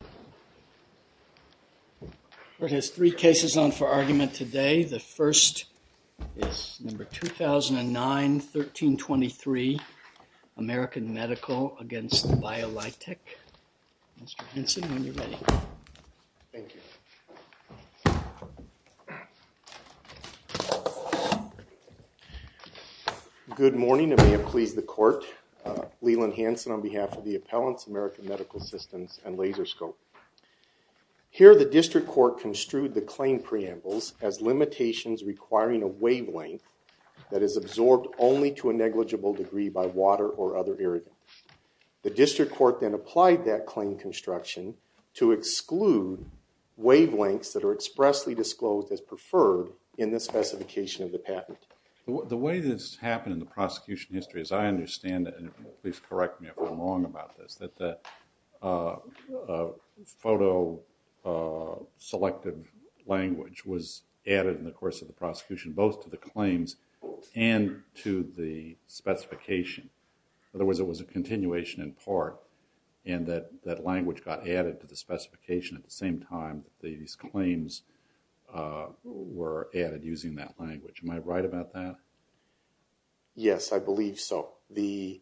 The court has three cases on for argument today. The first is number 2009-1323, American Medical v. Biolitec. Mr. Hanson, when you're ready. Good morning and may it please the court. Leland Hanson on behalf of the Appellants, American Medical Systems and Laserscope. Here the district court construed the claim preambles as limitations requiring a wavelength that is absorbed only to a negligible degree by water or other irritants. The district court then applied that claim construction to exclude wavelengths that are expressly disclosed as preferred in the specification of the patent. The way this happened in the prosecution history, as I understand it, and please correct me if I'm wrong about this, that the photo-selective language was added in the course of the prosecution both to the claims and to the specification. In other words, it was a continuation in part and that language got added to the specification at the same time that these claims were added using that language. Am I right about that? Yes, I believe so. The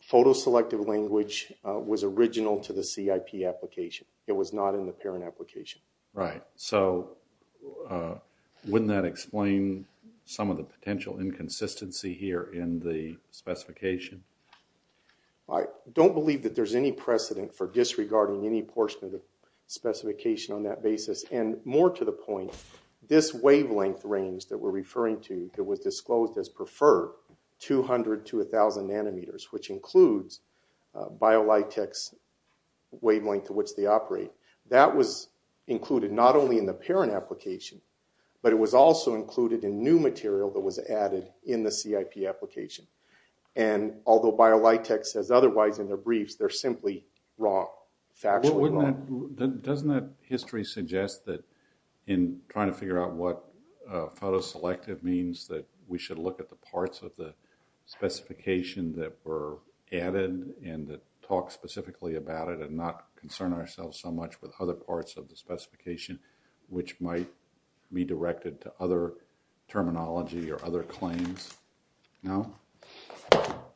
photo-selective language was original to the CIP application. It was not in the parent application. Right, so wouldn't that explain some of the potential inconsistency here in the specification? I don't believe that there's any precedent for disregarding any portion of the specification on that basis and more to the point, this wavelength range that we're referring to that was disclosed as preferred, 200 to 1,000 nanometers, which includes BioLitex wavelength to which they operate, that was included not only in the parent application, but it was also included in new material that was added in the CIP application. And although BioLitex says otherwise in their briefs, they're simply wrong, factually wrong. Doesn't that history suggest that in trying to figure out what photo-selective means that we should look at the parts of the specification that were added and talk specifically about it and not concern ourselves so much with other parts of the specification, which might be directed to other terminology or other claims? No?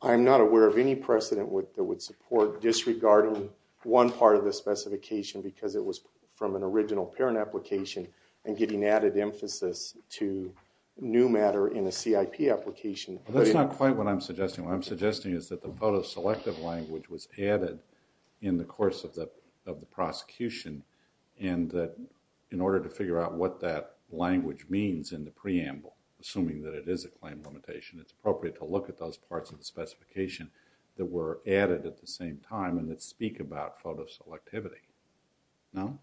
I'm not aware of any precedent that would support disregarding one part of the specification because it was from an original parent application and getting added emphasis to new matter in a CIP application. That's not quite what I'm suggesting. What I'm suggesting is that the photo-selective language was added in the course of the prosecution and that in order to figure out what that language means in the preamble, assuming that it is a claim limitation, it's appropriate to look at those parts of the specification that were added at the same time and that speak about photo-selectivity. No?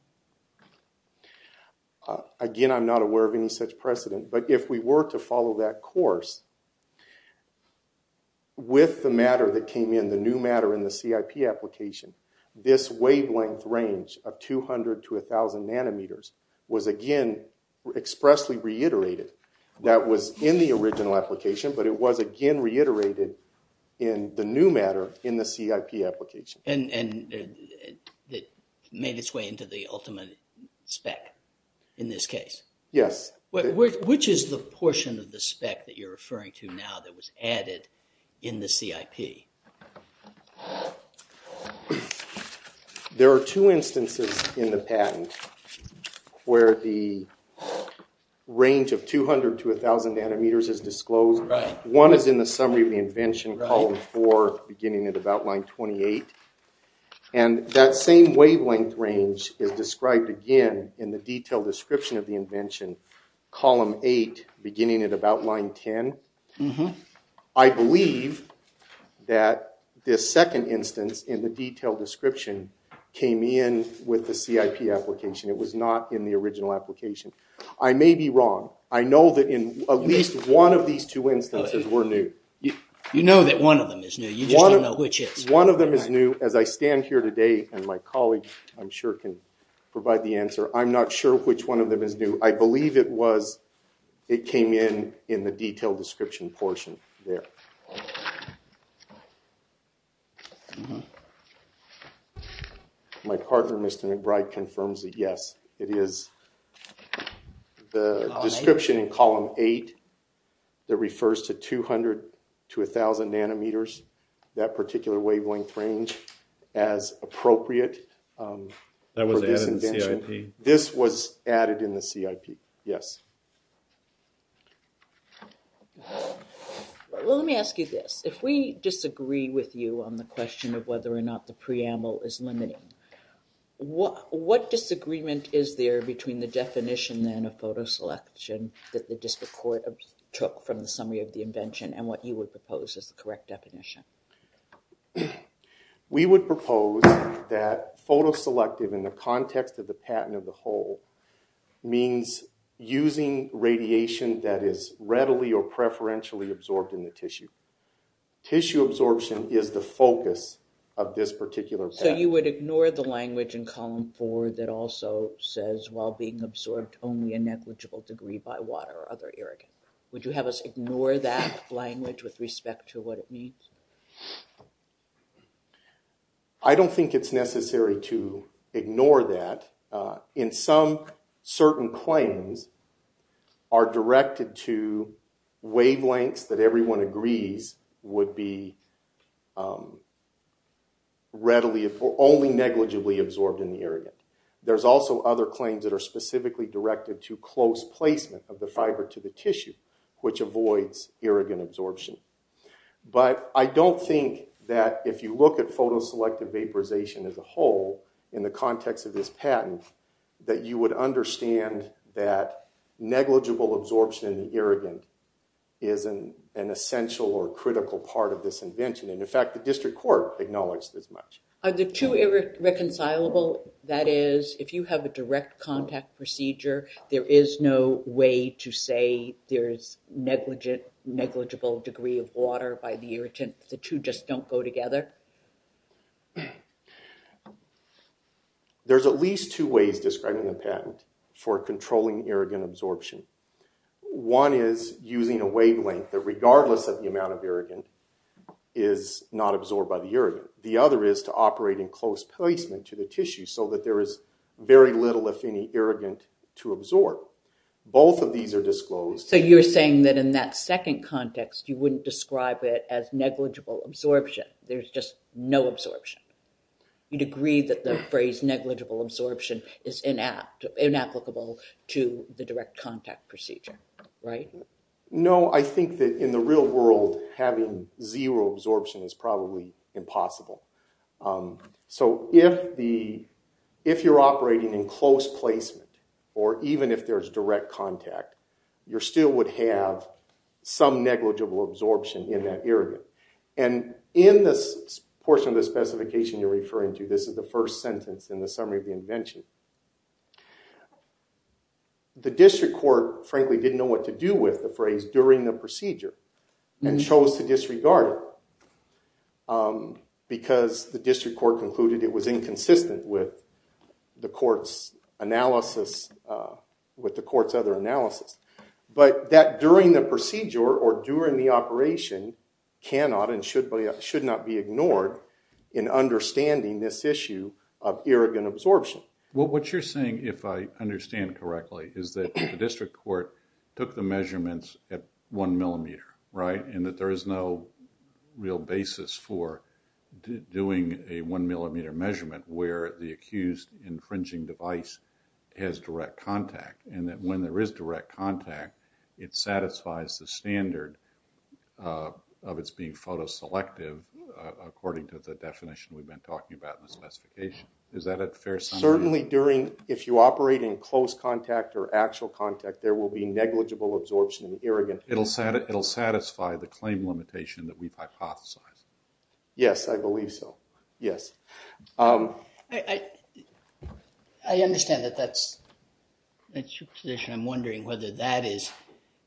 Again, I'm not aware of any such precedent, but if we were to follow that course with the matter that came in, the new matter in the CIP application, this wavelength range of 200 to 1,000 nanometers was again expressly reiterated. That was in the original application, but it was again reiterated in the new matter in the CIP application. And it made its way into the ultimate spec in this case? Yes. Which is the portion of the spec that you're referring to now that was added in the CIP? There are two instances in the patent where the range of 200 to 1,000 nanometers is disclosed. One is in the summary of the invention, column four, beginning at about line 28. And that same wavelength range is described again in the detailed description of the invention, column eight, beginning at about line 10. I believe that this second instance in the detailed description came in with the CIP application. It was not in the original application. I may be wrong. I know that in at least one of these two instances were new. You know that one of them is new. You just don't know which is. One of them is new. As I stand here today and my colleague I'm sure can provide the answer, I'm not sure which one of them is new. I believe it was, it came in in the detailed description portion there. My partner Mr. McBride confirms that yes, it is. The description in column eight that refers to 200 to 1,000 nanometers, that particular wavelength range as appropriate for this invention, this was added in the CIP. Yes. Well let me ask you this. If we disagree with you on the question of whether or not the preamble is limiting, what disagreement is there between the definition then of photo selection that the district court took from the summary of the invention and what you would propose as the correct definition? We would propose that photo selective in the context of the patent of the whole means using radiation that is readily or preferentially absorbed in the tissue. Tissue absorption is the focus of this particular patent. So you would ignore the language in column four that also says while being absorbed only a negligible degree by water or other irrigant. Would you have us ignore that language with respect to what it means? I don't think it's necessary to ignore that. In some certain claims are directed to wavelengths that everyone agrees would be readily or only negligibly absorbed in the irrigant. There's also other claims that are specifically directed to close placement of the fiber to the tissue, which avoids irrigant absorption. But I don't think that if you look at photo selective vaporization as a whole in the context of this patent, that you would understand that negligible absorption in the irrigant is an essential or critical part of this invention. And in fact, the district court acknowledged this much. Are the two irreconcilable? That is, if you have a direct contact procedure, there is no way to say there is negligible degree of water by the irritant? The two just don't go together? There's at least two ways describing the patent for controlling irrigant absorption. One is using a wavelength that regardless of the amount of irrigant is not absorbed by the patent, and the other is using very little, if any, irrigant to absorb. Both of these are disclosed. So you're saying that in that second context, you wouldn't describe it as negligible absorption. There's just no absorption. You'd agree that the phrase negligible absorption is inapplicable to the direct contact procedure, right? No, I think that in the real world, having zero absorption is probably impossible. So if you're operating in close placement, or even if there's direct contact, you still would have some negligible absorption in that irrigant. And in this portion of the specification you're referring to, this is the first sentence in the summary of the invention, the district court frankly didn't know what to do with the phrase during the procedure and chose to disregard it because the district court concluded it was inconsistent with the court's analysis, with the court's other analysis. But that during the procedure or during the operation cannot and should not be ignored in understanding this issue of irrigant absorption. What you're saying, if I understand correctly, is that the district court took the measurements at one millimeter, right? And that there is no real basis for doing a one millimeter measurement where the accused infringing device has direct contact. And that when there is direct contact, it satisfies the standard of its being photo selective according to the definition we've been talking about in the specification. Is that a fair summary? Certainly during, if you operate in close contact or actual contact, there will be negligible absorption in irrigant. It'll satisfy the claim limitation that we've hypothesized. Yes, I believe so. Yes. I understand that that's your position. I'm wondering whether that is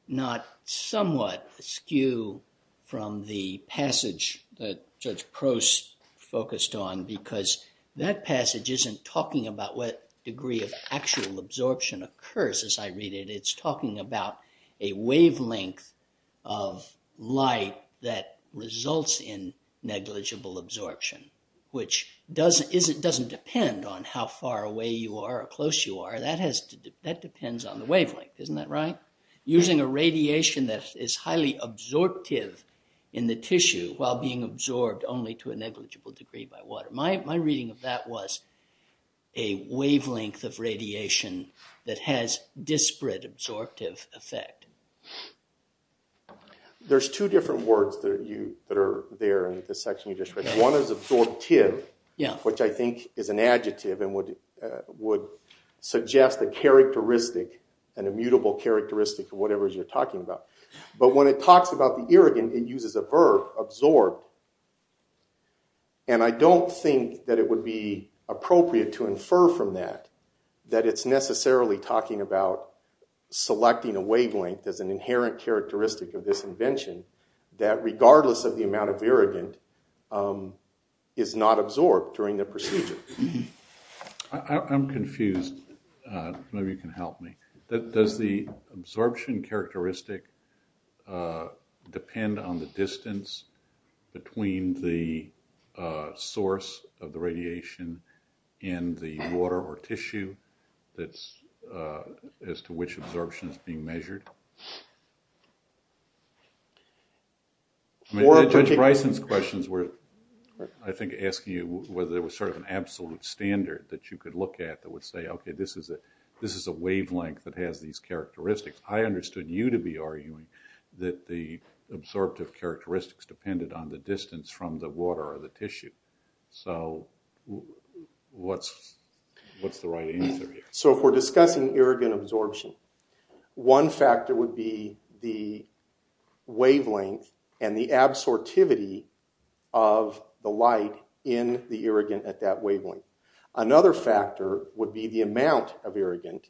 not somewhat askew from the passage that Judge Prost focused on because that passage isn't talking about what degree of actual absorption occurs as I read it. It's talking about a wavelength of light that results in negligible absorption, which doesn't depend on how far away you are or close you are. That depends on the wavelength. Isn't that right? Using a radiation that is highly absorptive in the tissue while being absorbed only to a negligible degree by water. My reading of that was a wavelength of radiation that has disparate absorptive effect. There's two different words that are there in the section you just read. One is absorptive, which I think is an adjective and would suggest a characteristic, an immutable characteristic of whatever it is you're talking about. But when it talks about the irrigant, it uses a verb, absorbed. I don't think that it would be appropriate to infer from that that it's necessarily talking about selecting a wavelength as an inherent characteristic of this invention that regardless of the amount of irrigant is not absorbed during the procedure. I'm confused. Maybe you can help me. Does the absorption characteristic depend on the distance between the source of the radiation and the water or tissue as to which absorption is being measured? Judge Bryson's questions were, I think, asking you whether there was sort of an absolute standard that you could look at that would say, okay, this is a wavelength that has these characteristics. I understood you to be arguing that the absorptive characteristics depended on the distance from the water or the tissue. So what's the right answer here? So if we're discussing irrigant absorption, one factor would be the wavelength and the Another factor would be the amount of irrigant.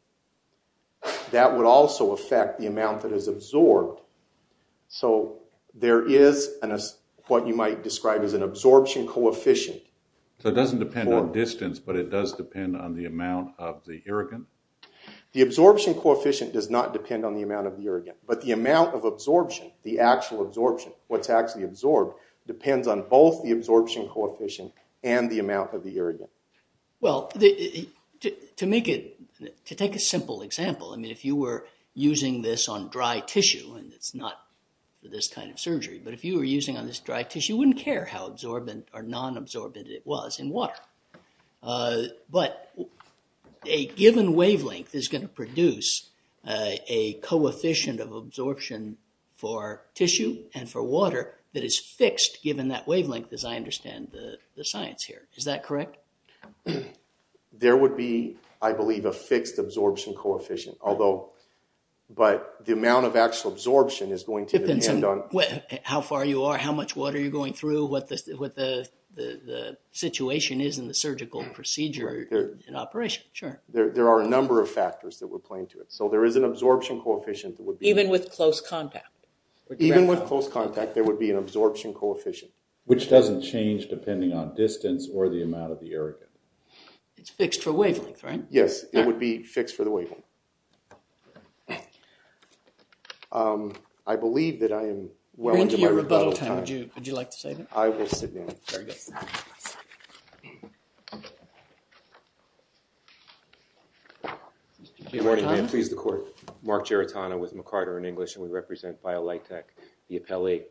That would also affect the amount that is absorbed. So there is what you might describe as an absorption coefficient. So it doesn't depend on distance, but it does depend on the amount of the irrigant? The absorption coefficient does not depend on the amount of the irrigant. But the amount of absorption, the actual absorption, what's actually absorbed, depends on both the absorption coefficient and the amount of the irrigant. Well, to take a simple example, I mean, if you were using this on dry tissue, and it's not this kind of surgery, but if you were using on this dry tissue, you wouldn't care how absorbent or non-absorbent it was in water. But a given wavelength is going to produce a coefficient of absorption for tissue and for water that is fixed given that wavelength, as I understand the science here. Is that correct? There would be, I believe, a fixed absorption coefficient. But the amount of actual absorption is going to depend on... Depends on how far you are, how much water you're going through, what the situation is in the surgical procedure in operation. Sure. There are a number of factors that were playing to it. So there is an absorption coefficient that would be... Even with close contact. Even with close contact, there would be an absorption coefficient. Which doesn't change depending on distance or the amount of the irrigant. It's fixed for wavelength, right? Yes. It would be fixed for the wavelength. I believe that I am well into my rebuttal time. You're into your rebuttal time. Would you like to say that? I will sit down. Very good. Good morning, ma'am. Please, the court. Mark Giratano with McCarter in English, and we represent BioLitech, the appellee.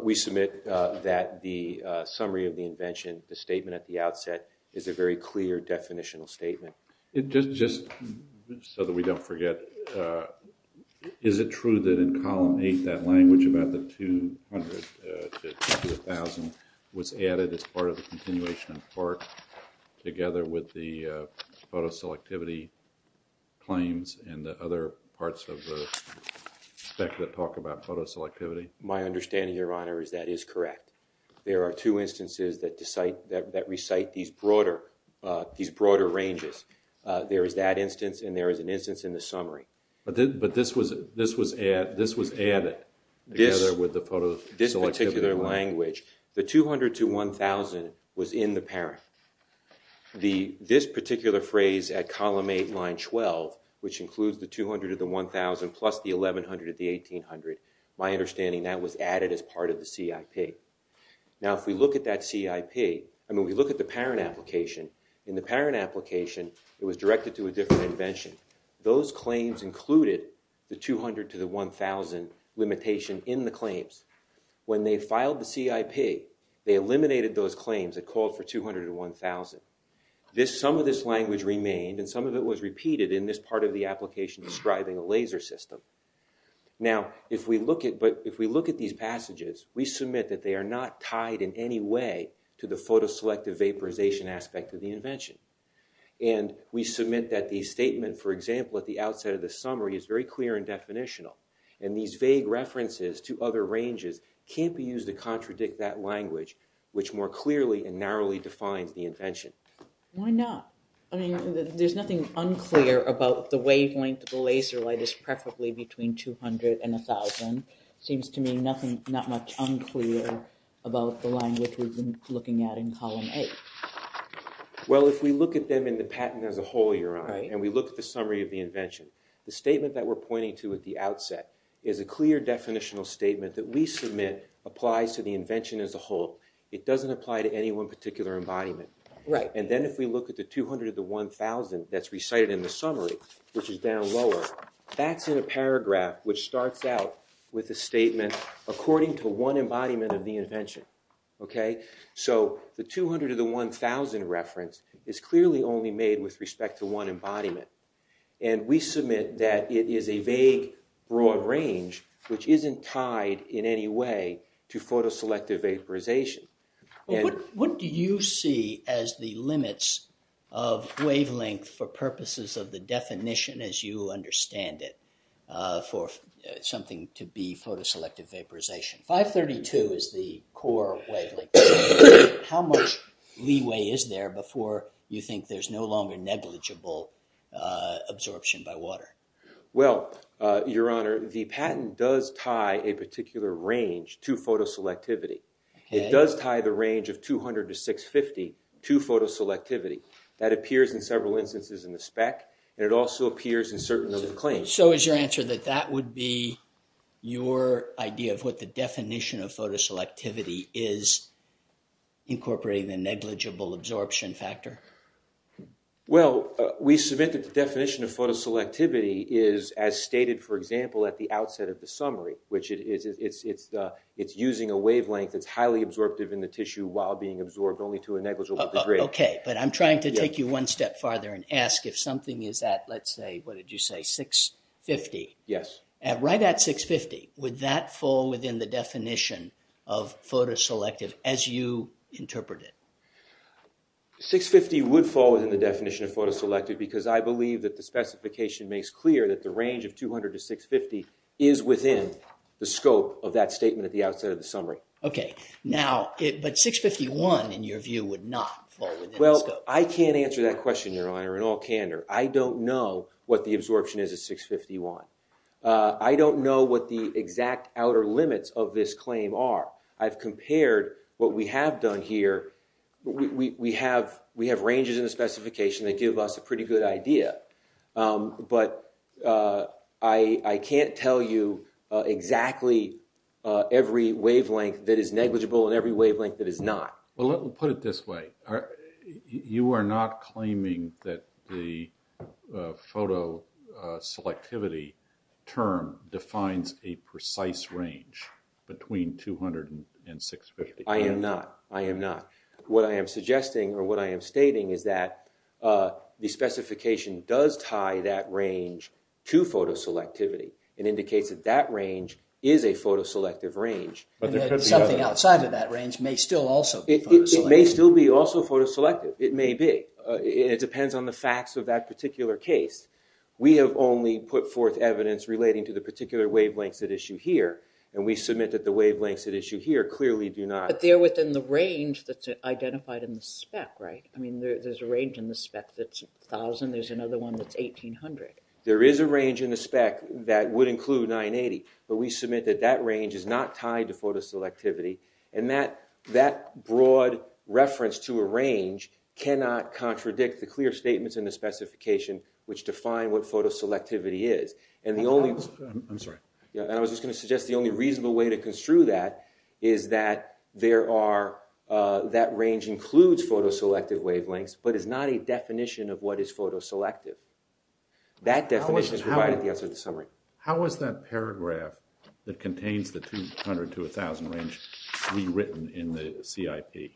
We submit that the summary of the invention, the statement at the outset, is a very clear definitional statement. Just so that we don't forget, is it true that in Column 8, that language about the 200 to 1,000 was in the parent? My understanding, Your Honor, is that is correct. There are two instances that recite these broader ranges. There is that instance, and there is an instance in the summary. But this was added together with the photo selectivity? This particular language, the 200 to 1,000 was in the parent. This particular phrase at Column 8, line 12, which includes the 200 to the 1,000 plus the 1,100 to the 1,800, my understanding that was added as part of the CIP. Now, if we look at that CIP, I mean, we look at the parent application. In the parent application, it was directed to a different invention. Those claims included the 200 to the 1,000 limitation in the claims. When they filed the CIP, they eliminated those claims that called for 200 to 1,000. Some of this language remained, and some of it was repeated in this part of the application describing a laser system. Now, if we look at these passages, we submit that they are not tied in any way to the photo selective vaporization aspect of the invention. And we submit that the statement, for example, at the outset of the summary is very clear and definitional. And these vague references to other ranges can't be used to contradict that language, which more clearly and narrowly defines the invention. Why not? I mean, there's nothing unclear about the wavelength of the laser light is preferably between 200 and 1,000. Seems to me not much unclear about the language we've been looking at in Column 8. Well, if we look at them in the patent as a whole, Your Honor, and we look at the summary of the invention, the statement that we're pointing to at the outset is a clear definitional statement that we submit applies to the invention as a whole. It doesn't apply to any one particular embodiment. Right. And then if we look at the 200 to 1,000 that's recited in the summary, which is down lower, that's in a paragraph which starts out with a statement according to one embodiment of the invention. Okay? So the 200 to the 1,000 reference is clearly only made with respect to one embodiment. And we submit that it is a vague, broad range, which isn't tied in any way to photo-selective vaporization. What do you see as the limits of wavelength for purposes of the definition as you understand it for something to be photo-selective vaporization? 532 is the core wavelength. How much leeway is there before you think there's no longer negligible absorption by water? Well, Your Honor, the patent does tie a particular range to photo-selectivity. Okay. It does tie the range of 200 to 650 to photo-selectivity. That appears in several instances in the spec, and it also appears in certain claims. So is your answer that that would be your idea of what the definition of photo-selectivity is, incorporating the negligible absorption factor? Well, we submit that the definition of photo-selectivity is as stated, for example, at the outset of the summary, which it's using a wavelength that's highly absorptive in the tissue while being absorbed only to a negligible degree. Okay. But I'm trying to take you one step farther and ask if something is at, let's say, what 650. Yes. And right at 650, would that fall within the definition of photo-selective as you interpret it? 650 would fall within the definition of photo-selective because I believe that the specification makes clear that the range of 200 to 650 is within the scope of that statement at the outset of the summary. Okay. Now, but 651, in your view, would not fall within the scope. Well, I can't answer that question, Your Honor, in all candor. I don't know what the absorption is at 651. I don't know what the exact outer limits of this claim are. I've compared what we have done here. But we have ranges in the specification that give us a pretty good idea. But I can't tell you exactly every wavelength that is negligible and every wavelength that is not. Well, let me put it this way. You are not claiming that the photo-selectivity term defines a precise range between 200 and 650. I am not. I am not. What I am suggesting or what I am stating is that the specification does tie that range to photo-selectivity. It indicates that that range is a photo-selective range. But there could be other. Something outside of that range may still also be photo-selective. It may still be also photo-selective. It may be. It depends on the facts of that particular case. We have only put forth evidence relating to the particular wavelengths at issue here. And we submit that the wavelengths at issue here clearly do not. But they are within the range that is identified in the spec, right? I mean, there is a range in the spec that is 1,000. There is another one that is 1,800. There is a range in the spec that would include 980. But we submit that that range is not tied to photo-selectivity. And that broad reference to a range cannot contradict the clear statements in the specification which define what photo-selectivity is. And the only. I am sorry. And I was just going to suggest the only reasonable way to construe that is that there are, that range includes photo-selective wavelengths but is not a definition of what is photo-selective. That definition is provided at the end of the summary. How is that paragraph that contains the 200 to 1,000 range rewritten in the CIP?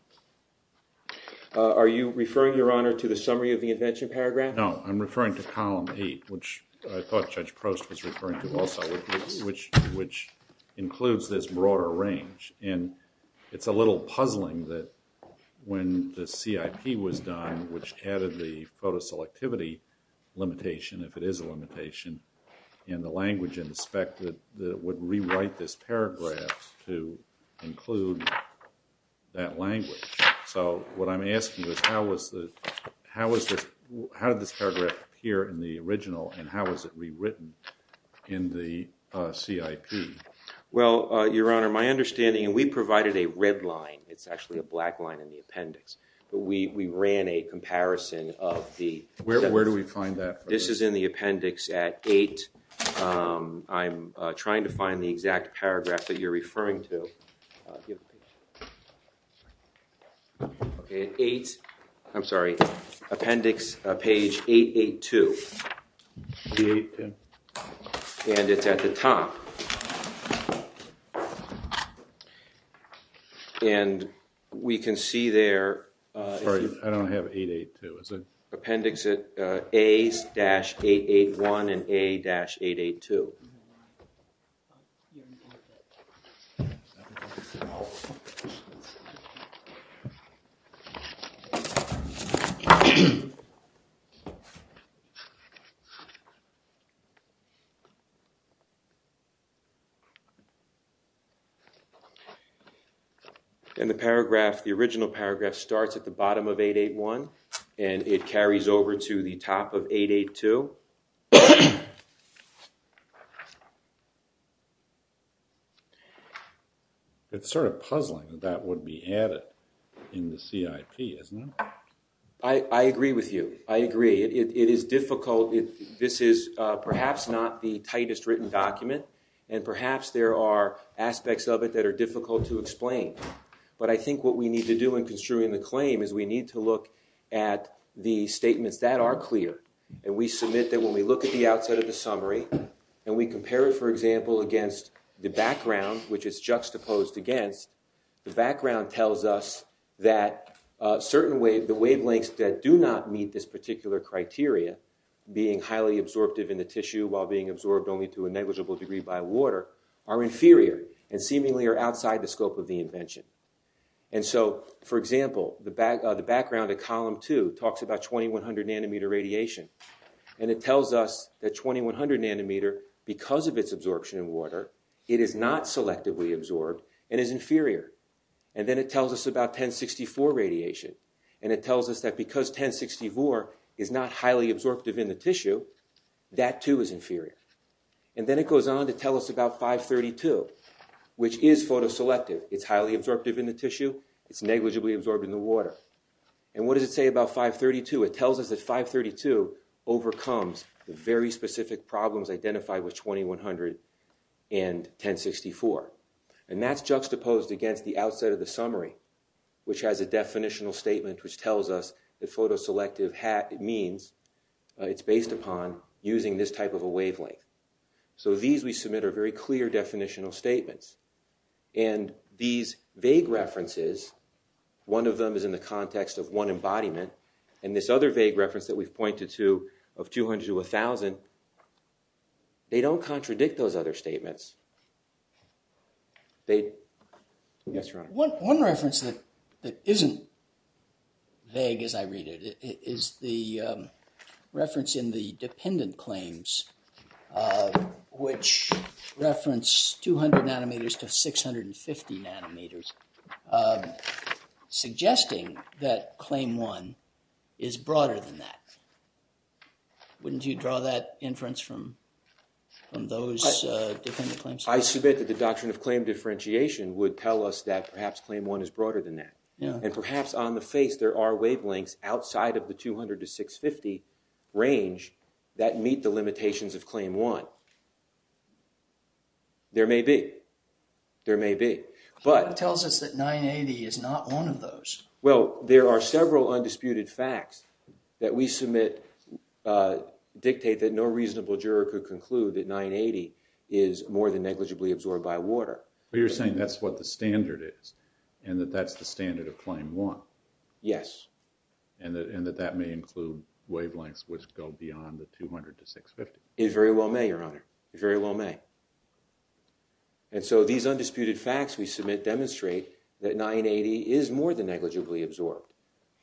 Are you referring, Your Honor, to the summary of the invention paragraph? No. I am referring to column 8, which I thought Judge Prost was referring to also, which includes this broader range. And it is a little puzzling that when the CIP was done, which added the photo-selectivity limitation, if it is a limitation, and the language in the spec that would rewrite this paragraph to include that language. So what I am asking is how did this paragraph appear in the original and how was it rewritten in the CIP? Well, Your Honor, my understanding, and we provided a red line. It is actually a black line in the appendix. We ran a comparison of the steps. Where do we find that? This is in the appendix at 8. I am trying to find the exact paragraph that you are referring to. At 8, I am sorry, appendix page 882. And it is at the top. And we can see there. I don't have 882. Appendix A-881 and A-882. And the original paragraph starts at the bottom of 881 and it carries over to the top of 882. It is sort of puzzling that that would be added in the CIP, isn't it? I agree with you. I agree. It is difficult. This is perhaps not the tightest written document and perhaps there are aspects of it that are difficult to explain. But I think what we need to do in construing the claim is we need to look at the statements that are clear. And we submit that when we look at the outset of the summary and we compare it, for example, against the background, which is juxtaposed against, the background tells us that certain wavelengths that do not meet this particular criteria, being highly absorptive in the tissue while being absorbed only to a negligible degree by water, are inferior and seemingly are outside the scope of the invention. And so, for example, the background at column 2 talks about 2100 nanometer radiation. And it tells us that 2100 nanometer, because of its absorption in water, it is not selectively absorbed and is inferior. And then it tells us about 1064 radiation. That too is inferior. And then it goes on to tell us about 532, which is photo-selective. It's highly absorptive in the tissue. It's negligibly absorbed in the water. And what does it say about 532? It tells us that 532 overcomes the very specific problems identified with 2100 and 1064. And that's juxtaposed against the outset of the summary, which has a definitional statement which tells us that photo-selective means it's based upon using this type of a wavelength. So these, we submit, are very clear definitional statements. And these vague references, one of them is in the context of one embodiment, and this other vague reference that we've pointed to of 200 to 1000, they don't contradict those other statements. Yes, Your Honor. One reference that isn't vague as I read it is the reference in the dependent claims, which reference 200 nanometers to 650 nanometers, suggesting that claim one is broader than that. Wouldn't you draw that inference from those different claims? I submit that the doctrine of claim differentiation would tell us that perhaps claim one is broader than that. And perhaps on the face there are wavelengths outside of the 200 to 650 range that meet the limitations of claim one. There may be. There may be. But it tells us that 980 is not one of those. Well, there are several undisputed facts that we submit dictate that no reasonable juror could conclude that 980 is more than negligibly absorbed by water. But you're saying that's what the standard is, and that that's the standard of claim one? Yes. And that that may include wavelengths which go beyond the 200 to 650? It very well may, Your Honor. It very well may. And so these undisputed facts we submit demonstrate that 980 is more than negligibly absorbed.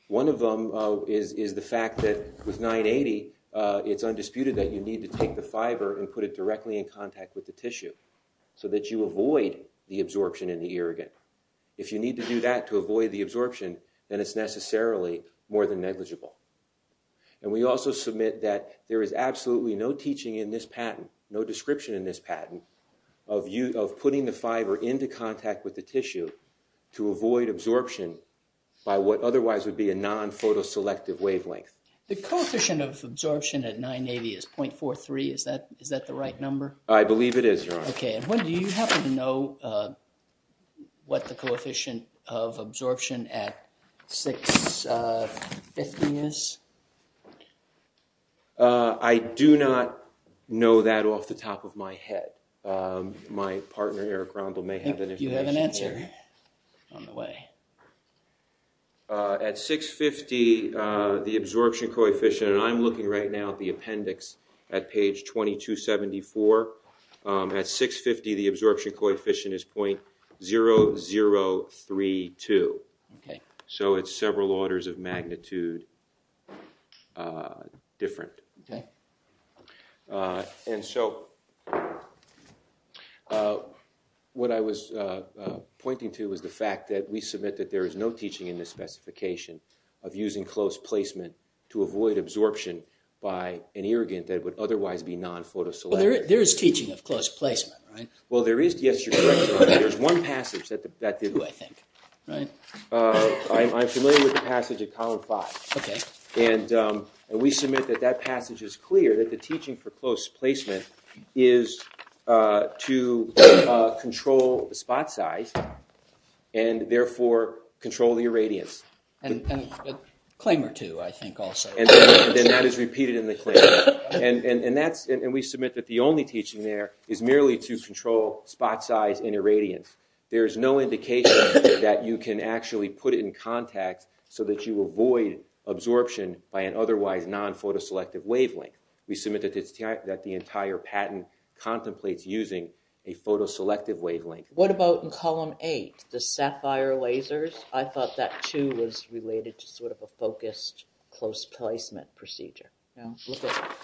One of them is the fact that with 980, it's undisputed that you need to take the fiber and put it directly in contact with the tissue so that you avoid the absorption in the irrigant. If you need to do that to avoid the absorption, then it's necessarily more than negligible. And we also submit that there is absolutely no teaching in this patent, no description in this patent, of putting the fiber into contact with the tissue to avoid absorption by what otherwise would be a non-photoselective wavelength. The coefficient of absorption at 980 is 0.43. Is that the right number? I believe it is, Your Honor. Okay. And do you happen to know what the coefficient of absorption at 650 is? I do not know that off the top of my head. My partner, Eric Rondle, may have that information. I think you have an answer on the way. At 650, the absorption coefficient, and I'm looking right now at the appendix at page 2274. At 650, the absorption coefficient is 0.0032. So it's several orders of magnitude different. And so what I was pointing to was the fact that we submit that there is no teaching in this specification of using close placement to avoid absorption by an irrigant that would otherwise be non-photoselective. Well, there is teaching of close placement, right? Well, there is. Yes, you're correct, Your Honor. There's one passage that did that, I think. Right. I'm familiar with the passage at column 5. Okay. And we submit that that passage is clear, that the teaching for close placement is to control the spot size and therefore control the irradiance. A claim or two, I think, also. And that is repeated in the claim. And we submit that the only teaching there is merely to control spot size and irradiance. There is no indication that you can actually put it in contact so that you avoid absorption by an otherwise non-photoselective wavelength. We submit that the entire patent contemplates using a photoselective wavelength. What about in column 8, the sapphire lasers? I thought that, too, was related to sort of a focused close placement procedure. Well, look at that.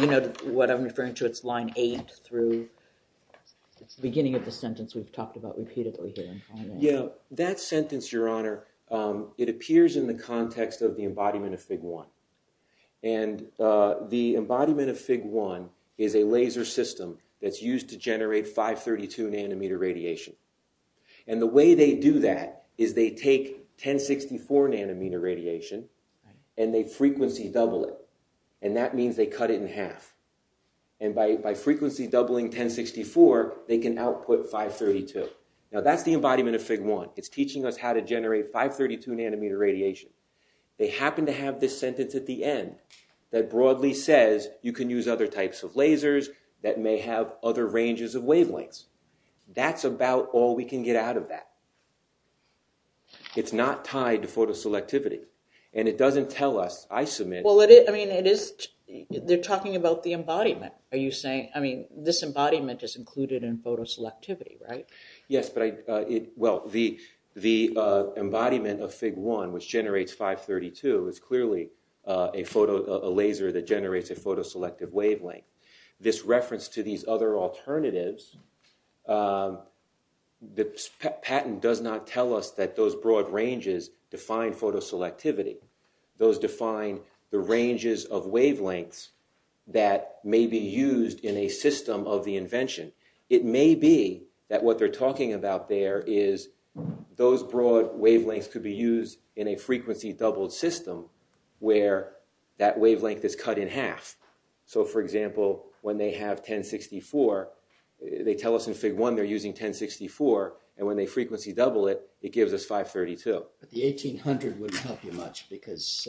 You know, what I'm referring to, it's line 8 through... It's the beginning of the sentence we've talked about repeatedly here. Yeah, that sentence, Your Honor, it appears in the context of the embodiment of FIG-1. And the embodiment of FIG-1 is a laser system that's used to generate 532 nanometer radiation. And the way they do that is they take 1064 nanometer radiation and they frequency double it. And that means they cut it in half. And by frequency doubling 1064, they can output 532. Now, that's the embodiment of FIG-1. It's teaching us how to generate 532 nanometer radiation. They happen to have this sentence at the end that broadly says you can use other types of lasers that may have other ranges of wavelengths. That's about all we can get out of that. It's not tied to photo selectivity. And it doesn't tell us, I submit... Well, I mean, it is... They're talking about the embodiment, are you saying? I mean, this embodiment is included in photo selectivity, right? Yes, but I... Well, the embodiment of FIG-1, which generates 532, is clearly a photo... a laser that generates a photo selective wavelength. This reference to these other alternatives, the patent does not tell us that those broad ranges define photo selectivity. Those define the ranges of wavelengths that may be used in a system of the invention. It may be that what they're talking about there is those broad wavelengths could be used in a frequency doubled system where that wavelength is cut in half. So, for example, when they have 1064, they tell us in FIG-1 they're using 1064, and when they frequency double it, it gives us 532. But the 1800 wouldn't help you much because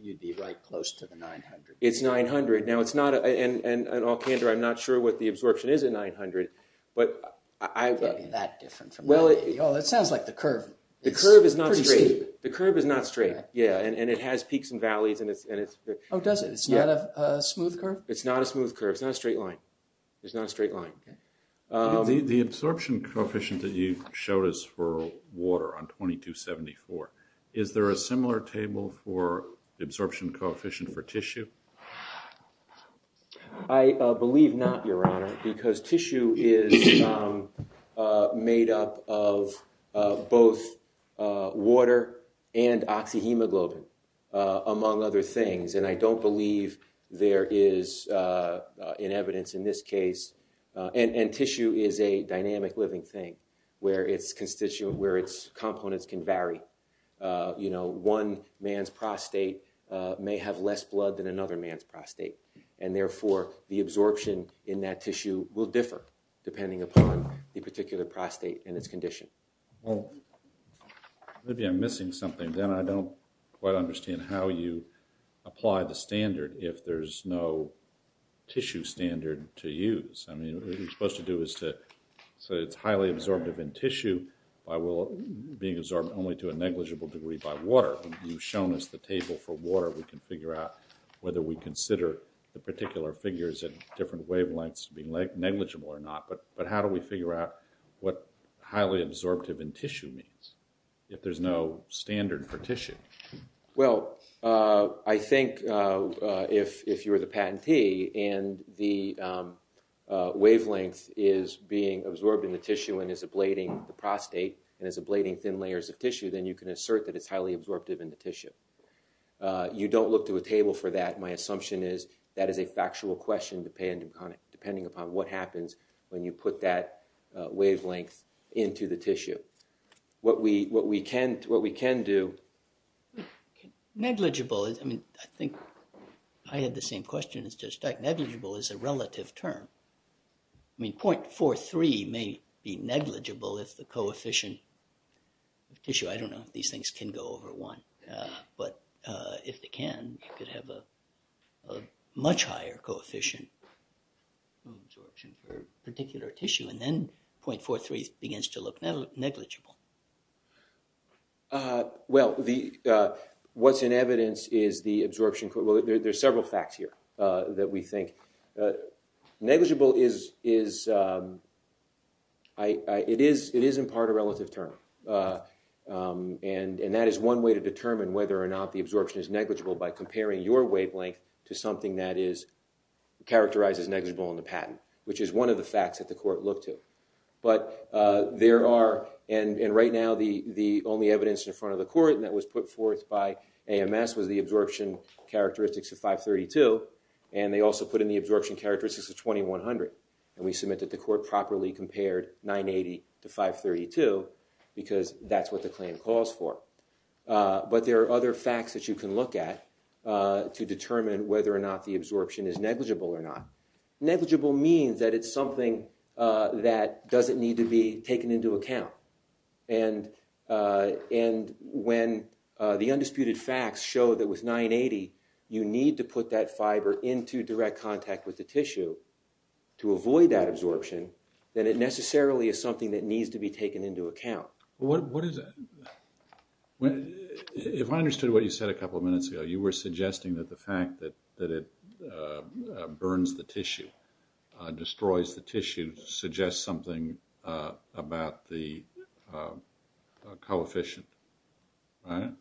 you'd be right close to the 900. It's 900. Now, it's not... And in all candor, I'm not sure what the absorption is at 900, but I... It can't be that different from... Well, it... Oh, that sounds like the curve. The curve is not straight. It's pretty steep. The curve is not straight, yeah. And it has peaks and valleys, and it's... Oh, does it? It's not a smooth curve? It's not a smooth curve. It's not a straight line. It's not a straight line. Okay. The absorption coefficient that you showed us for water on 2274, is there a similar table for the absorption coefficient for tissue? I believe not, Your Honor, because tissue is made up of both water and oxyhemoglobin, among other things, and I don't believe there is, in evidence in this case... And tissue is a dynamic living thing where its components can vary. You know, one man's prostate may have less blood than another man's prostate, and therefore the absorption in that tissue will differ, depending upon the particular prostate and its condition. Well, maybe I'm missing something. And then I don't quite understand how you apply the standard if there's no tissue standard to use. I mean, what you're supposed to do is to... So it's highly absorptive in tissue by being absorbed only to a negligible degree by water. You've shown us the table for water. We can figure out whether we consider the particular figures at different wavelengths being negligible or not, but how do we figure out what highly absorptive in tissue means if there's no standard for tissue? Well, I think if you're the patentee and the wavelength is being absorbed in the tissue and is ablating the prostate and is ablating thin layers of tissue, then you can assert that it's highly absorptive in the tissue. You don't look to a table for that. My assumption is that is a factual question depending upon what happens when you put that wavelength into the tissue. What we can do... Negligible is... I mean, I think I had the same question as Judge Stark. Negligible is a relative term. I mean, 0.43 may be negligible if the coefficient of tissue... I don't know if these things can go over 1, but if they can, you could have a much higher coefficient of absorption for a particular tissue, and then 0.43 begins to look negligible. Well, what's in evidence is the absorption... Well, there's several facts here that we think... Negligible is... It is in part a relative term, and that is one way to determine whether or not the absorption is negligible by comparing your wavelength to something that characterizes negligible on the patent, which is one of the facts that the court looked to. But there are... And right now, the only evidence in front of the court that was put forth by AMS was the absorption characteristics of 0.532, and they also put in the absorption characteristics of 0.2100. And we submit that the court properly compared 0.980 to 0.532 because that's what the claim calls for. But there are other facts that you can look at to determine whether or not the absorption is negligible or not. Negligible means that it's something that doesn't need to be taken into account. And when the undisputed facts show that with 0.980, you need to put that fiber into direct contact with the tissue to avoid that absorption, then it necessarily is something that needs to be taken into account. What is... If I understood what you said a couple of minutes ago, you were suggesting that the fact that it burns the tissue, destroys the tissue, suggests something about the coefficient. Right?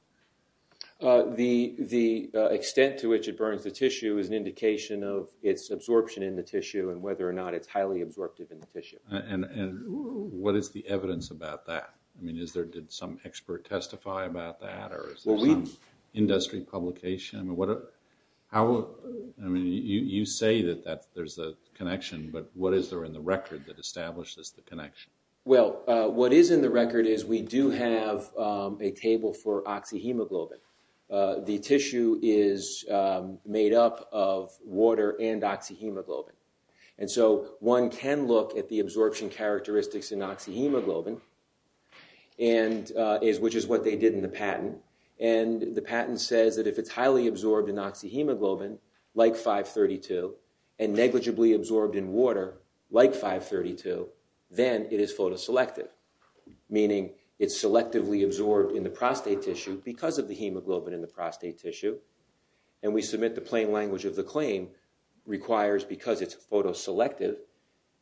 The extent to which it burns the tissue is an indication of its absorption in the tissue and whether or not it's highly absorptive in the tissue. And what is the evidence about that? I mean, did some expert testify about that? Or is there some industry publication? I mean, you say that there's a connection, but what is there in the record that establishes the connection? Well, what is in the record is we do have a table for oxyhemoglobin. The tissue is made up of water and oxyhemoglobin. And so one can look at the absorption characteristics in oxyhemoglobin, which is what they did in the patent. And the patent says that if it's highly absorbed in oxyhemoglobin, like 532, and negligibly absorbed in water, like 532, then it is photoselective, meaning it's selectively absorbed in the prostate tissue because of the hemoglobin in the prostate tissue. And we submit the plain language of the claim, requires because it's photoselective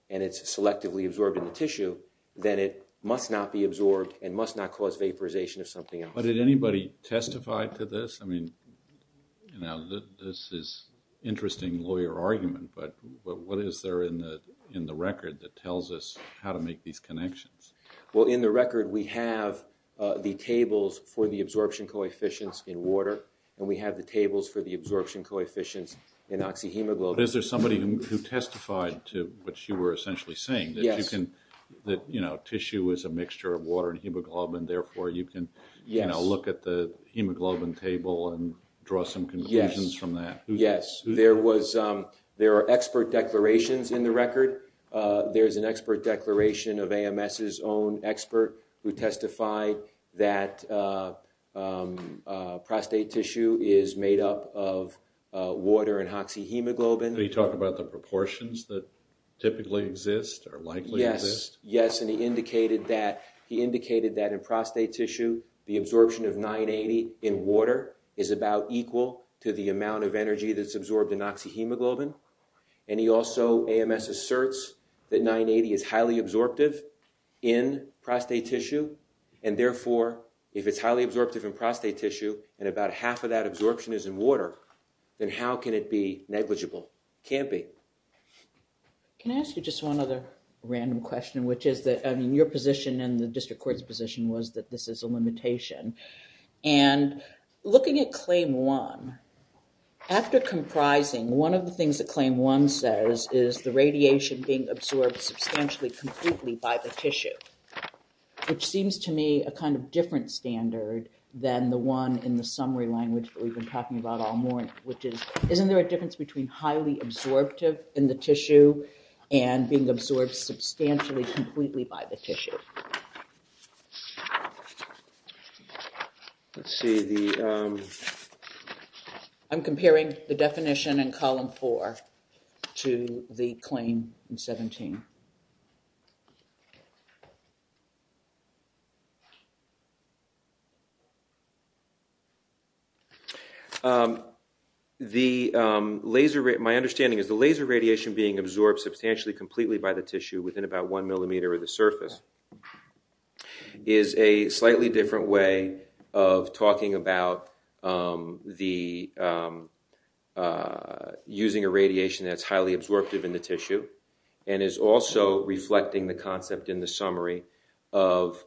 and it's selectively absorbed in the tissue, then it must not be absorbed and must not cause vaporization of something else. But did anybody testify to this? I mean, this is an interesting lawyer argument, but what is there in the record that tells us how to make these connections? Well, in the record we have the tables for the absorption coefficients in water and we have the tables for the absorption coefficients in oxyhemoglobin. But is there somebody who testified to what you were essentially saying? Yes. That tissue is a mixture of water and hemoglobin, therefore you can look at the hemoglobin table and draw some conclusions from that. Yes. There are expert declarations in the record. There's an expert declaration of AMS's own expert who testified that prostate tissue is made up of water and oxyhemoglobin. Did he talk about the proportions that typically exist or likely exist? Yes. Yes, and he indicated that in prostate tissue the absorption of 980 in water is about equal to the amount of energy that's absorbed in oxyhemoglobin. And he also, AMS asserts that 980 is highly absorptive in prostate tissue and therefore if it's highly absorptive in prostate tissue and about half of that absorption is in water, then how can it be negligible? It can't be. Can I ask you just one other random question, which is that your position and the district court's position was that this is a limitation. And looking at Claim 1, after comprising one of the things that Claim 1 says is the radiation being absorbed substantially completely by the tissue, which seems to me a kind of different standard than the one in the summary language that we've been talking about all morning, which is isn't there a difference between highly absorptive in the tissue and being absorbed substantially completely by the tissue? Let's see. I'm comparing the definition in Column 4 to the claim in 17. My understanding is the laser radiation being absorbed substantially completely by the tissue within about one millimeter of the surface is a slightly different way of talking about using a radiation that's highly absorptive in the tissue and is also reflecting the concept in the summary of...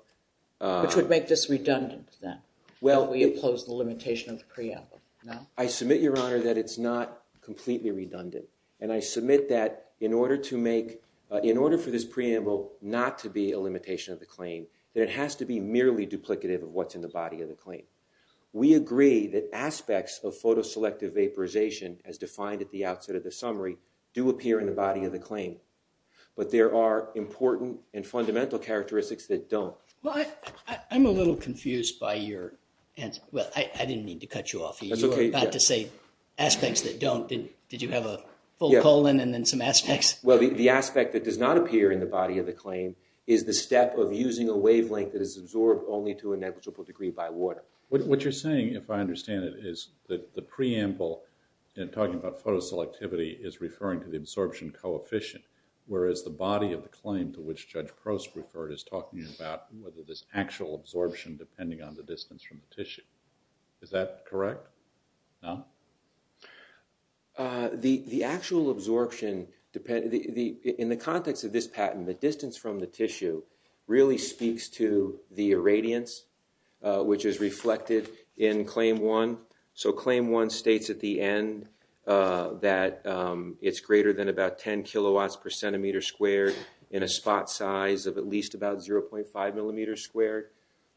Which would make this redundant, then? Well, we oppose the limitation of the preamble, no? I submit, Your Honor, that it's not completely redundant. And I submit that in order for this preamble not to be a limitation of the claim, that it has to be merely duplicative of what's in the body of the claim. We agree that aspects of photoselective vaporization, as defined at the outset of the summary, do appear in the body of the claim. But there are important and fundamental characteristics that don't. Well, I'm a little confused by your answer. Well, I didn't mean to cut you off. You were about to say aspects that don't. Did you have a full colon and then some aspects? Well, the aspect that does not appear in the body of the claim is the step of using a wavelength that is absorbed only to a negligible degree by water. What you're saying, if I understand it, is that the preamble in talking about photoselectivity is referring to the absorption coefficient, whereas the body of the claim to which Judge Prost referred is talking about whether there's actual absorption depending on the distance from the tissue. Is that correct? No? The actual absorption, in the context of this patent, the distance from the tissue really speaks to the irradiance, which is reflected in Claim 1. So Claim 1 states at the end that it's greater than about 10 kilowatts per centimeter squared in a spot size of at least about 0.5 millimeters squared.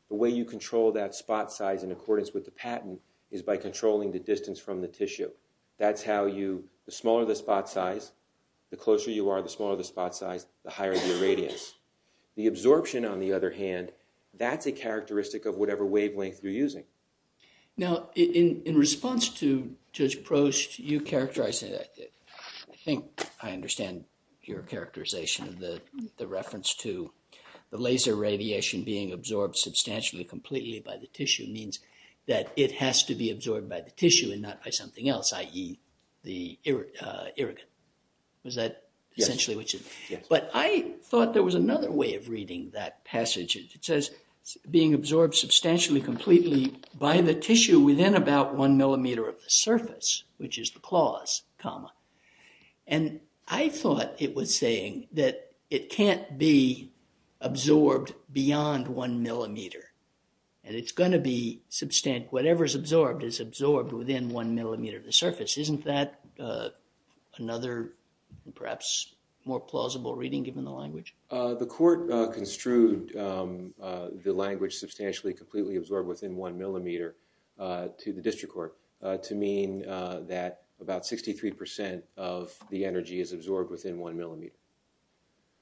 The way you control that spot size in accordance with the patent is by controlling the distance from the tissue. That's how you, the smaller the spot size, the closer you are, the smaller the spot size, the higher the irradiance. The absorption, on the other hand, that's a characteristic of whatever wavelength you're using. Now, in response to Judge Prost, you characterized it, I think I understand your characterization of the reference to the laser radiation being absorbed substantially completely by the tissue means that it has to be absorbed by the tissue and not by something else, i.e., the irrigant. Is that essentially what you mean? Yes. But I thought there was another way of reading that passage. It says being absorbed substantially completely by the tissue within about one millimeter of the surface, which is the clause, comma. And I thought it was saying that it can't be absorbed beyond one millimeter. And it's going to be, whatever is absorbed is absorbed within one millimeter of the surface. Isn't that another, perhaps, more plausible reading given the language? The court construed the language substantially completely absorbed within one millimeter to the district court to mean that about 63% of the energy is absorbed within one millimeter.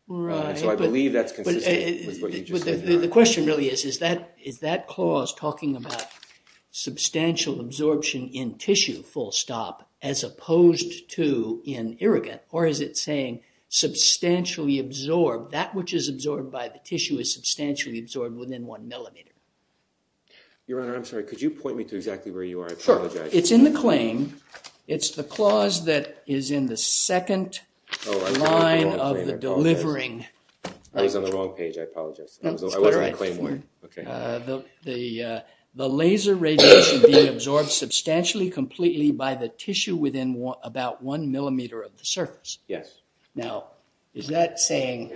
Right. So I believe that's consistent with what you just said. The question really is, is that clause talking about substantial absorption in tissue, full stop, as opposed to in irrigant, or is it saying substantially absorbed, that which is absorbed by the tissue is substantially absorbed within one millimeter? Your Honor, I'm sorry, could you point me to exactly where you are? I apologize. Sure. It's in the claim. It's the clause that is in the second line of the delivering. I was on the wrong page. I apologize. I was on the claim one. The laser radiation being absorbed substantially completely by the tissue within about one millimeter of the surface. Yes. Now, is that saying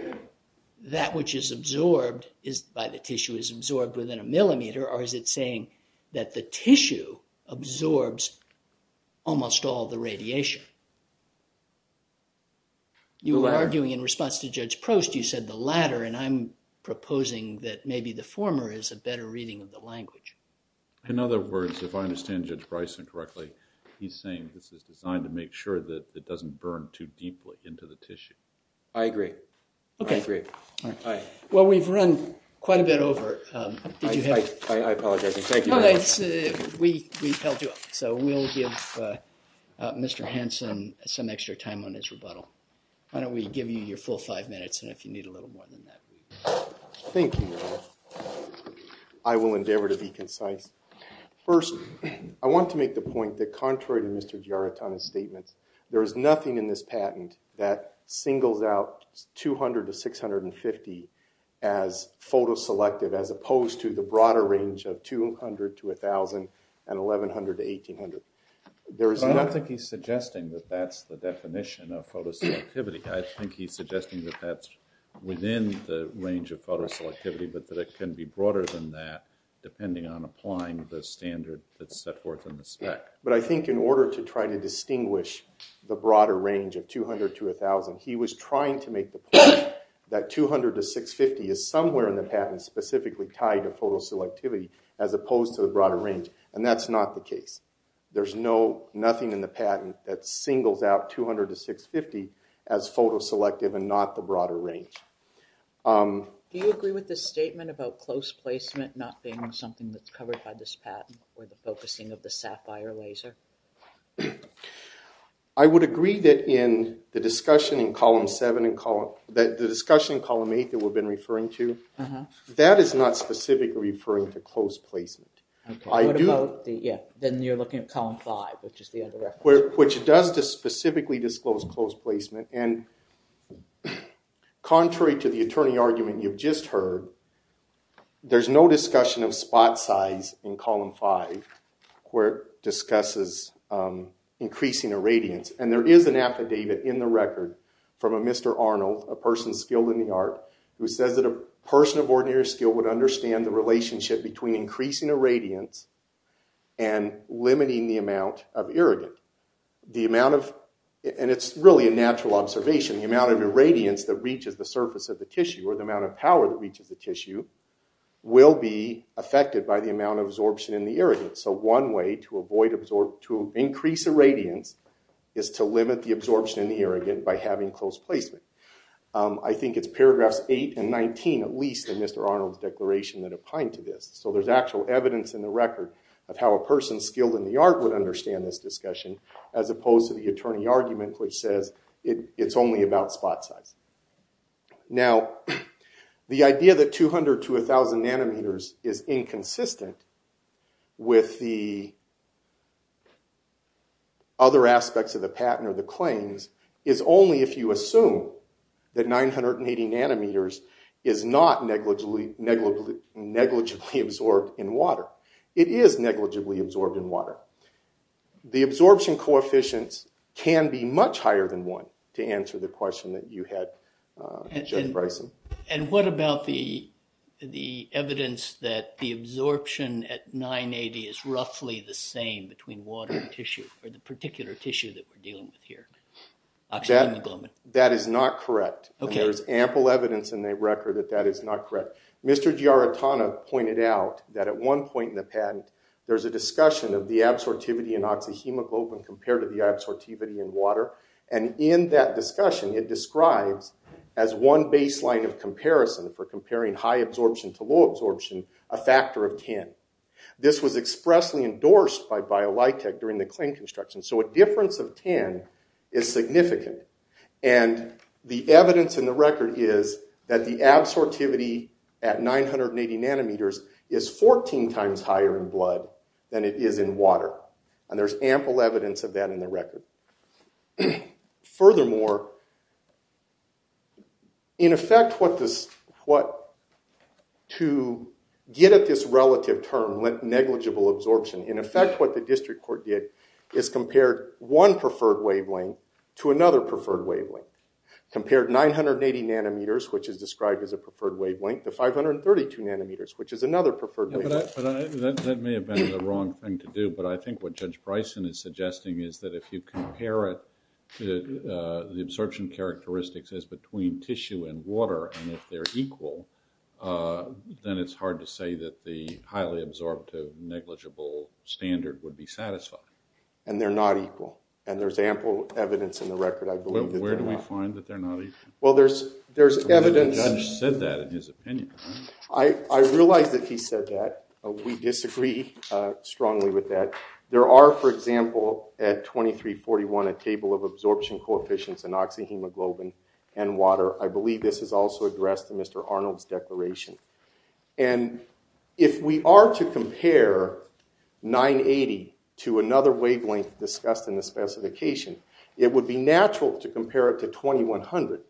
that which is absorbed by the tissue is absorbed within a millimeter, or is it saying that the tissue absorbs almost all the radiation? The latter. You were arguing in response to Judge Prost, you said the latter, and I'm proposing that maybe the former is a better reading of the language. In other words, if I understand Judge Bryson correctly, he's saying this is designed to make sure that it doesn't burn too deeply into the tissue. I agree. Okay. I agree. I apologize. Thank you very much. We held you up, so we'll give Mr. Hansen some extra time on his rebuttal. Why don't we give you your full five minutes, and if you need a little more than that. Thank you. I will endeavor to be concise. First, I want to make the point that contrary to Mr. Giarratana's statements, there is nothing in this patent that singles out 200 to 650 as photo selective, as opposed to the broader range of 200 to 1,000 and 1,100 to 1,800. I don't think he's suggesting that that's the definition of photo selectivity. I think he's suggesting that that's within the range of photo selectivity, but that it can be broader than that depending on applying the standard that's set forth in the spec. But I think in order to try to distinguish the broader range of 200 to 1,000, he was trying to make the point that 200 to 650 is somewhere in the patent specifically tied to photo selectivity as opposed to the broader range, and that's not the case. There's nothing in the patent that singles out 200 to 650 as photo selective and not the broader range. Do you agree with the statement about close placement not being something that's covered by this patent or the focusing of the SAFIRE laser? I would agree that in the discussion in column 7, the discussion in column 8 that we've been referring to, that is not specifically referring to close placement. Then you're looking at column 5, which is the other reference. Which does specifically disclose close placement, and contrary to the attorney argument you've just heard, there's no discussion of spot size in column 5 where it discusses increasing irradiance, and there is an affidavit in the record from a Mr. Arnold, a person skilled in the art, who says that a person of ordinary skill would understand the relationship between increasing irradiance and limiting the amount of irrigate. The amount of, and it's really a natural observation, the amount of irradiance that reaches the surface of the tissue or the amount of power that reaches the tissue will be affected by the amount of absorption in the irrigate. So one way to increase irradiance is to limit the absorption in the irrigate by having close placement. I think it's paragraphs 8 and 19, at least, in Mr. Arnold's declaration that opine to this. So there's actual evidence in the record of how a person skilled in the art would understand this discussion as opposed to the attorney argument which says it's only about spot size. Now, the idea that 200 to 1,000 nanometers is inconsistent with the other aspects of the patent or the claims is only if you assume that 980 nanometers is not negligibly absorbed in water. The absorption coefficients can be much higher than 1 to answer the question that you had, Judge Bryson. And what about the evidence that the absorption at 980 is roughly the same between water and tissue, or the particular tissue that we're dealing with here, oxygen and globin? That is not correct. Okay. And there's ample evidence in the record that that is not correct. Mr. Giarratana pointed out that at one point in the patent, there's a discussion of the absorptivity in oxyhemoglobin compared to the absorptivity in water. And in that discussion, it describes as one baseline of comparison for comparing high absorption to low absorption a factor of 10. This was expressly endorsed by BioLitech during the claim construction. So a difference of 10 is significant. And the evidence in the record is that the absorptivity at 980 nanometers is 14 times higher in blood than it is in water. And there's ample evidence of that in the record. Furthermore, in effect, to get at this relative term, negligible absorption, in effect, what the district court did is compared one preferred wavelength to another preferred wavelength, compared 980 nanometers, which is described as a preferred wavelength, to 532 nanometers, which is another preferred wavelength. But that may have been the wrong thing to do. But I think what Judge Bryson is suggesting is that if you compare it to the absorption characteristics as between tissue and water, and if they're equal, then it's hard to say that the highly absorptive negligible standard would be satisfied. And they're not equal. And there's ample evidence in the record, I believe, that they're not. Well, where do we find that they're not equal? Well, there's evidence. The judge said that in his opinion. I realize that he said that. We disagree strongly with that. There are, for example, at 2341, a table of absorption coefficients in oxyhemoglobin and water. I believe this is also addressed in Mr. Arnold's declaration. And if we are to compare 980 to another wavelength discussed in the specification, it would be natural to compare it to 2100.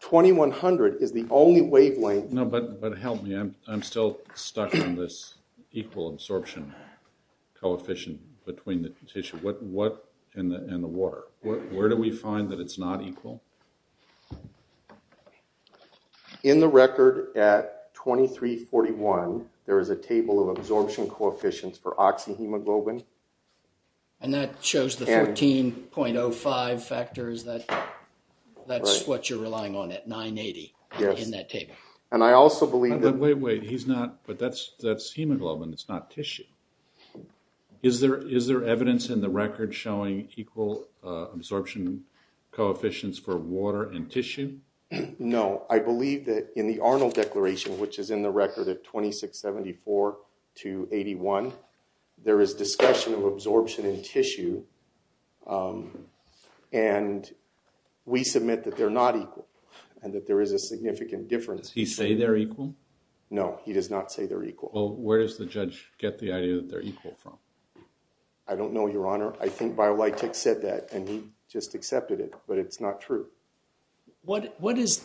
2100 is the only wavelength. No, but help me. I'm still stuck on this equal absorption coefficient between the tissue and the water. Where do we find that it's not equal? In the record at 2341, there is a table of absorption coefficients for oxyhemoglobin. And that shows the 14.05 factors. That's what you're relying on at 980 in that table. And I also believe that… Wait, wait. He's not… But that's hemoglobin. It's not tissue. Is there evidence in the record showing equal absorption coefficients for water and tissue? No. I believe that in the Arnold Declaration, which is in the record at 2674 to 81, there is discussion of absorption in tissue. And we submit that they're not equal and that there is a significant difference. Does he say they're equal? No, he does not say they're equal. Well, where does the judge get the idea that they're equal from? I don't know, Your Honor. I think BioLitech said that, and he just accepted it, but it's not true. What is…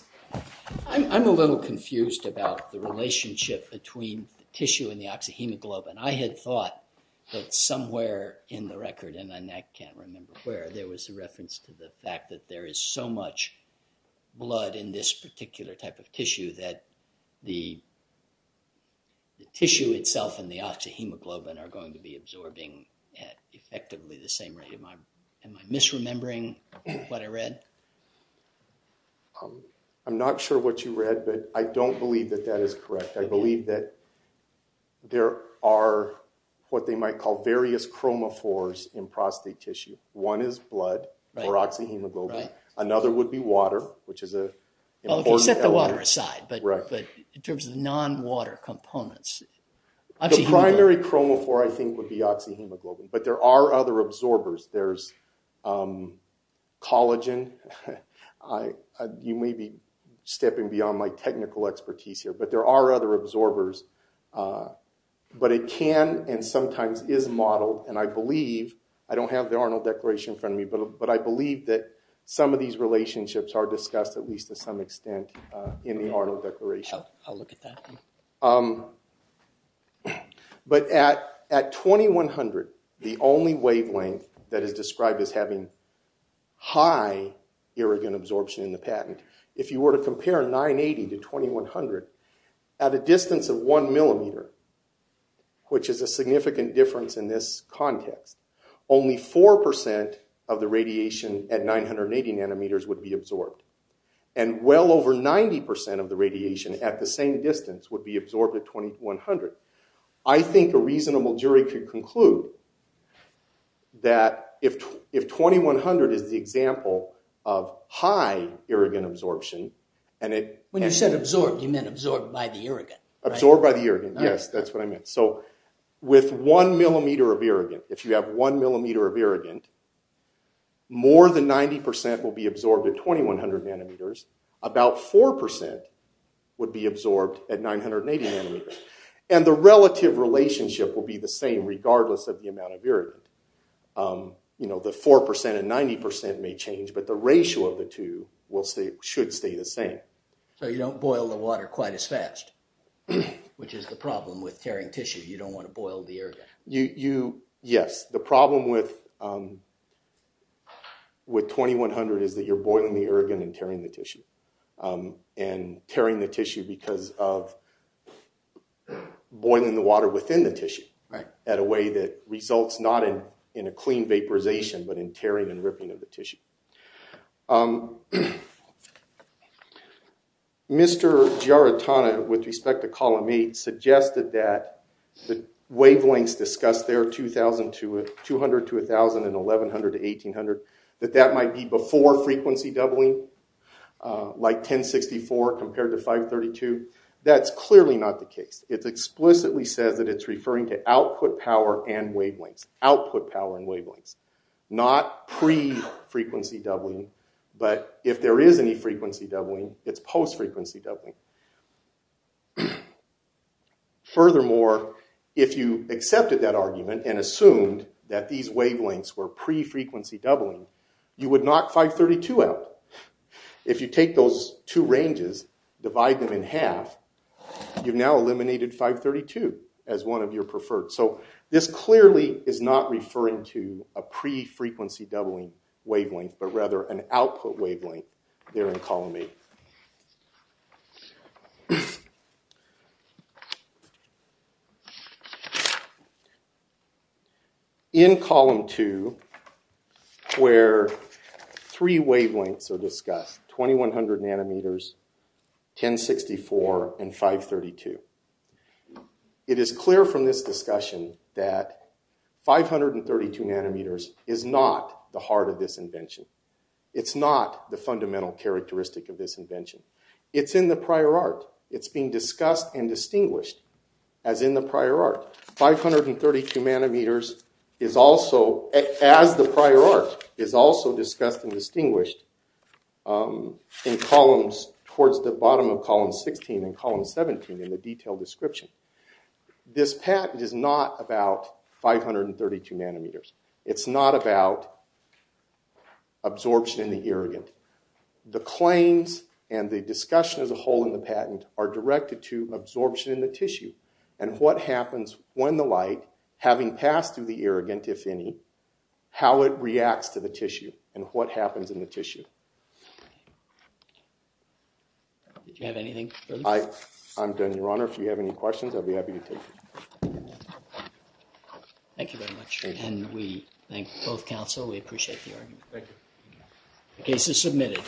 I'm a little confused about the relationship between the tissue and the oxyhemoglobin. I had thought that somewhere in the record, and I can't remember where, there was a reference to the fact that there is so much blood in this particular type of tissue that the tissue itself and the oxyhemoglobin are going to be absorbing at effectively the same rate. Am I misremembering what I read? I'm not sure what you read, but I don't believe that that is correct. I believe that there are what they might call various chromophores in prostate tissue. One is blood or oxyhemoglobin. Another would be water, which is an important element. Okay, set the water aside, but in terms of non-water components, oxyhemoglobin… The primary chromophore, I think, would be oxyhemoglobin, but there are other absorbers. There's collagen. You may be stepping beyond my technical expertise here, but there are other absorbers. But it can and sometimes is modeled, and I believe… I don't have the Arnold Declaration in front of me, but I believe that some of these relationships are discussed at least to some extent in the Arnold Declaration. I'll look at that. But at 2100, the only wavelength that is described as having high irrigant absorption in the patent, if you were to compare 980 to 2100, at a distance of 1 millimeter, which is a significant difference in this context, only 4% of the radiation at 980 nanometers would be absorbed, and well over 90% of the radiation at the same distance would be absorbed at 2100. I think a reasonable jury could conclude that if 2100 is the example of high irrigant absorption… When you said absorbed, you meant absorbed by the irrigant. Absorbed by the irrigant, yes, that's what I meant. So with 1 millimeter of irrigant, if you have 1 millimeter of irrigant, more than 90% will be absorbed at 2100 nanometers. About 4% would be absorbed at 980 nanometers. And the relative relationship will be the same regardless of the amount of irrigant. The 4% and 90% may change, but the ratio of the two should stay the same. So you don't boil the water quite as fast, which is the problem with tearing tissue. You don't want to boil the irrigant. Yes, the problem with 2100 is that you're boiling the irrigant and tearing the tissue. And tearing the tissue because of boiling the water within the tissue at a way that results not in a clean vaporization, but in tearing and ripping of the tissue. Mr. Giarratana, with respect to column 8, suggested that the wavelengths discussed there, 200 to 1000 and 1100 to 1800, that that might be before frequency doubling, like 1064 compared to 532. That's clearly not the case. It explicitly says that it's referring to output power and wavelengths. Output power and wavelengths. Not pre-frequency doubling, but if there is any frequency doubling, it's post-frequency doubling. Furthermore, if you accepted that argument and assumed that these wavelengths were pre-frequency doubling, you would knock 532 out. If you take those two ranges, divide them in half, you've now eliminated 532 as one of your preferred. So this clearly is not referring to a pre-frequency doubling wavelength, but rather an output wavelength there in column 8. In column 2, where three wavelengths are discussed, 2100 nanometers, 1064, and 532, it is clear from this discussion that 532 nanometers is not the heart of this invention. It's not the fundamental characteristic of this invention. It's in the prior art. It's being discussed and distinguished as in the prior art. 532 nanometers is also, as the prior art, is also discussed and distinguished in columns, towards the bottom of column 16 and column 17 in the detailed description. This patent is not about 532 nanometers. It's not about absorption in the irrigant. The claims and the discussion as a whole in the patent are directed to absorption in the tissue and what happens when the light, having passed through the irrigant, if any, how it reacts to the tissue and what happens in the tissue. Did you have anything further? I'm done, Your Honor. If you have any questions, I'll be happy to take them. Thank you very much. And we thank both counsel. We appreciate the argument. Thank you. The case is submitted.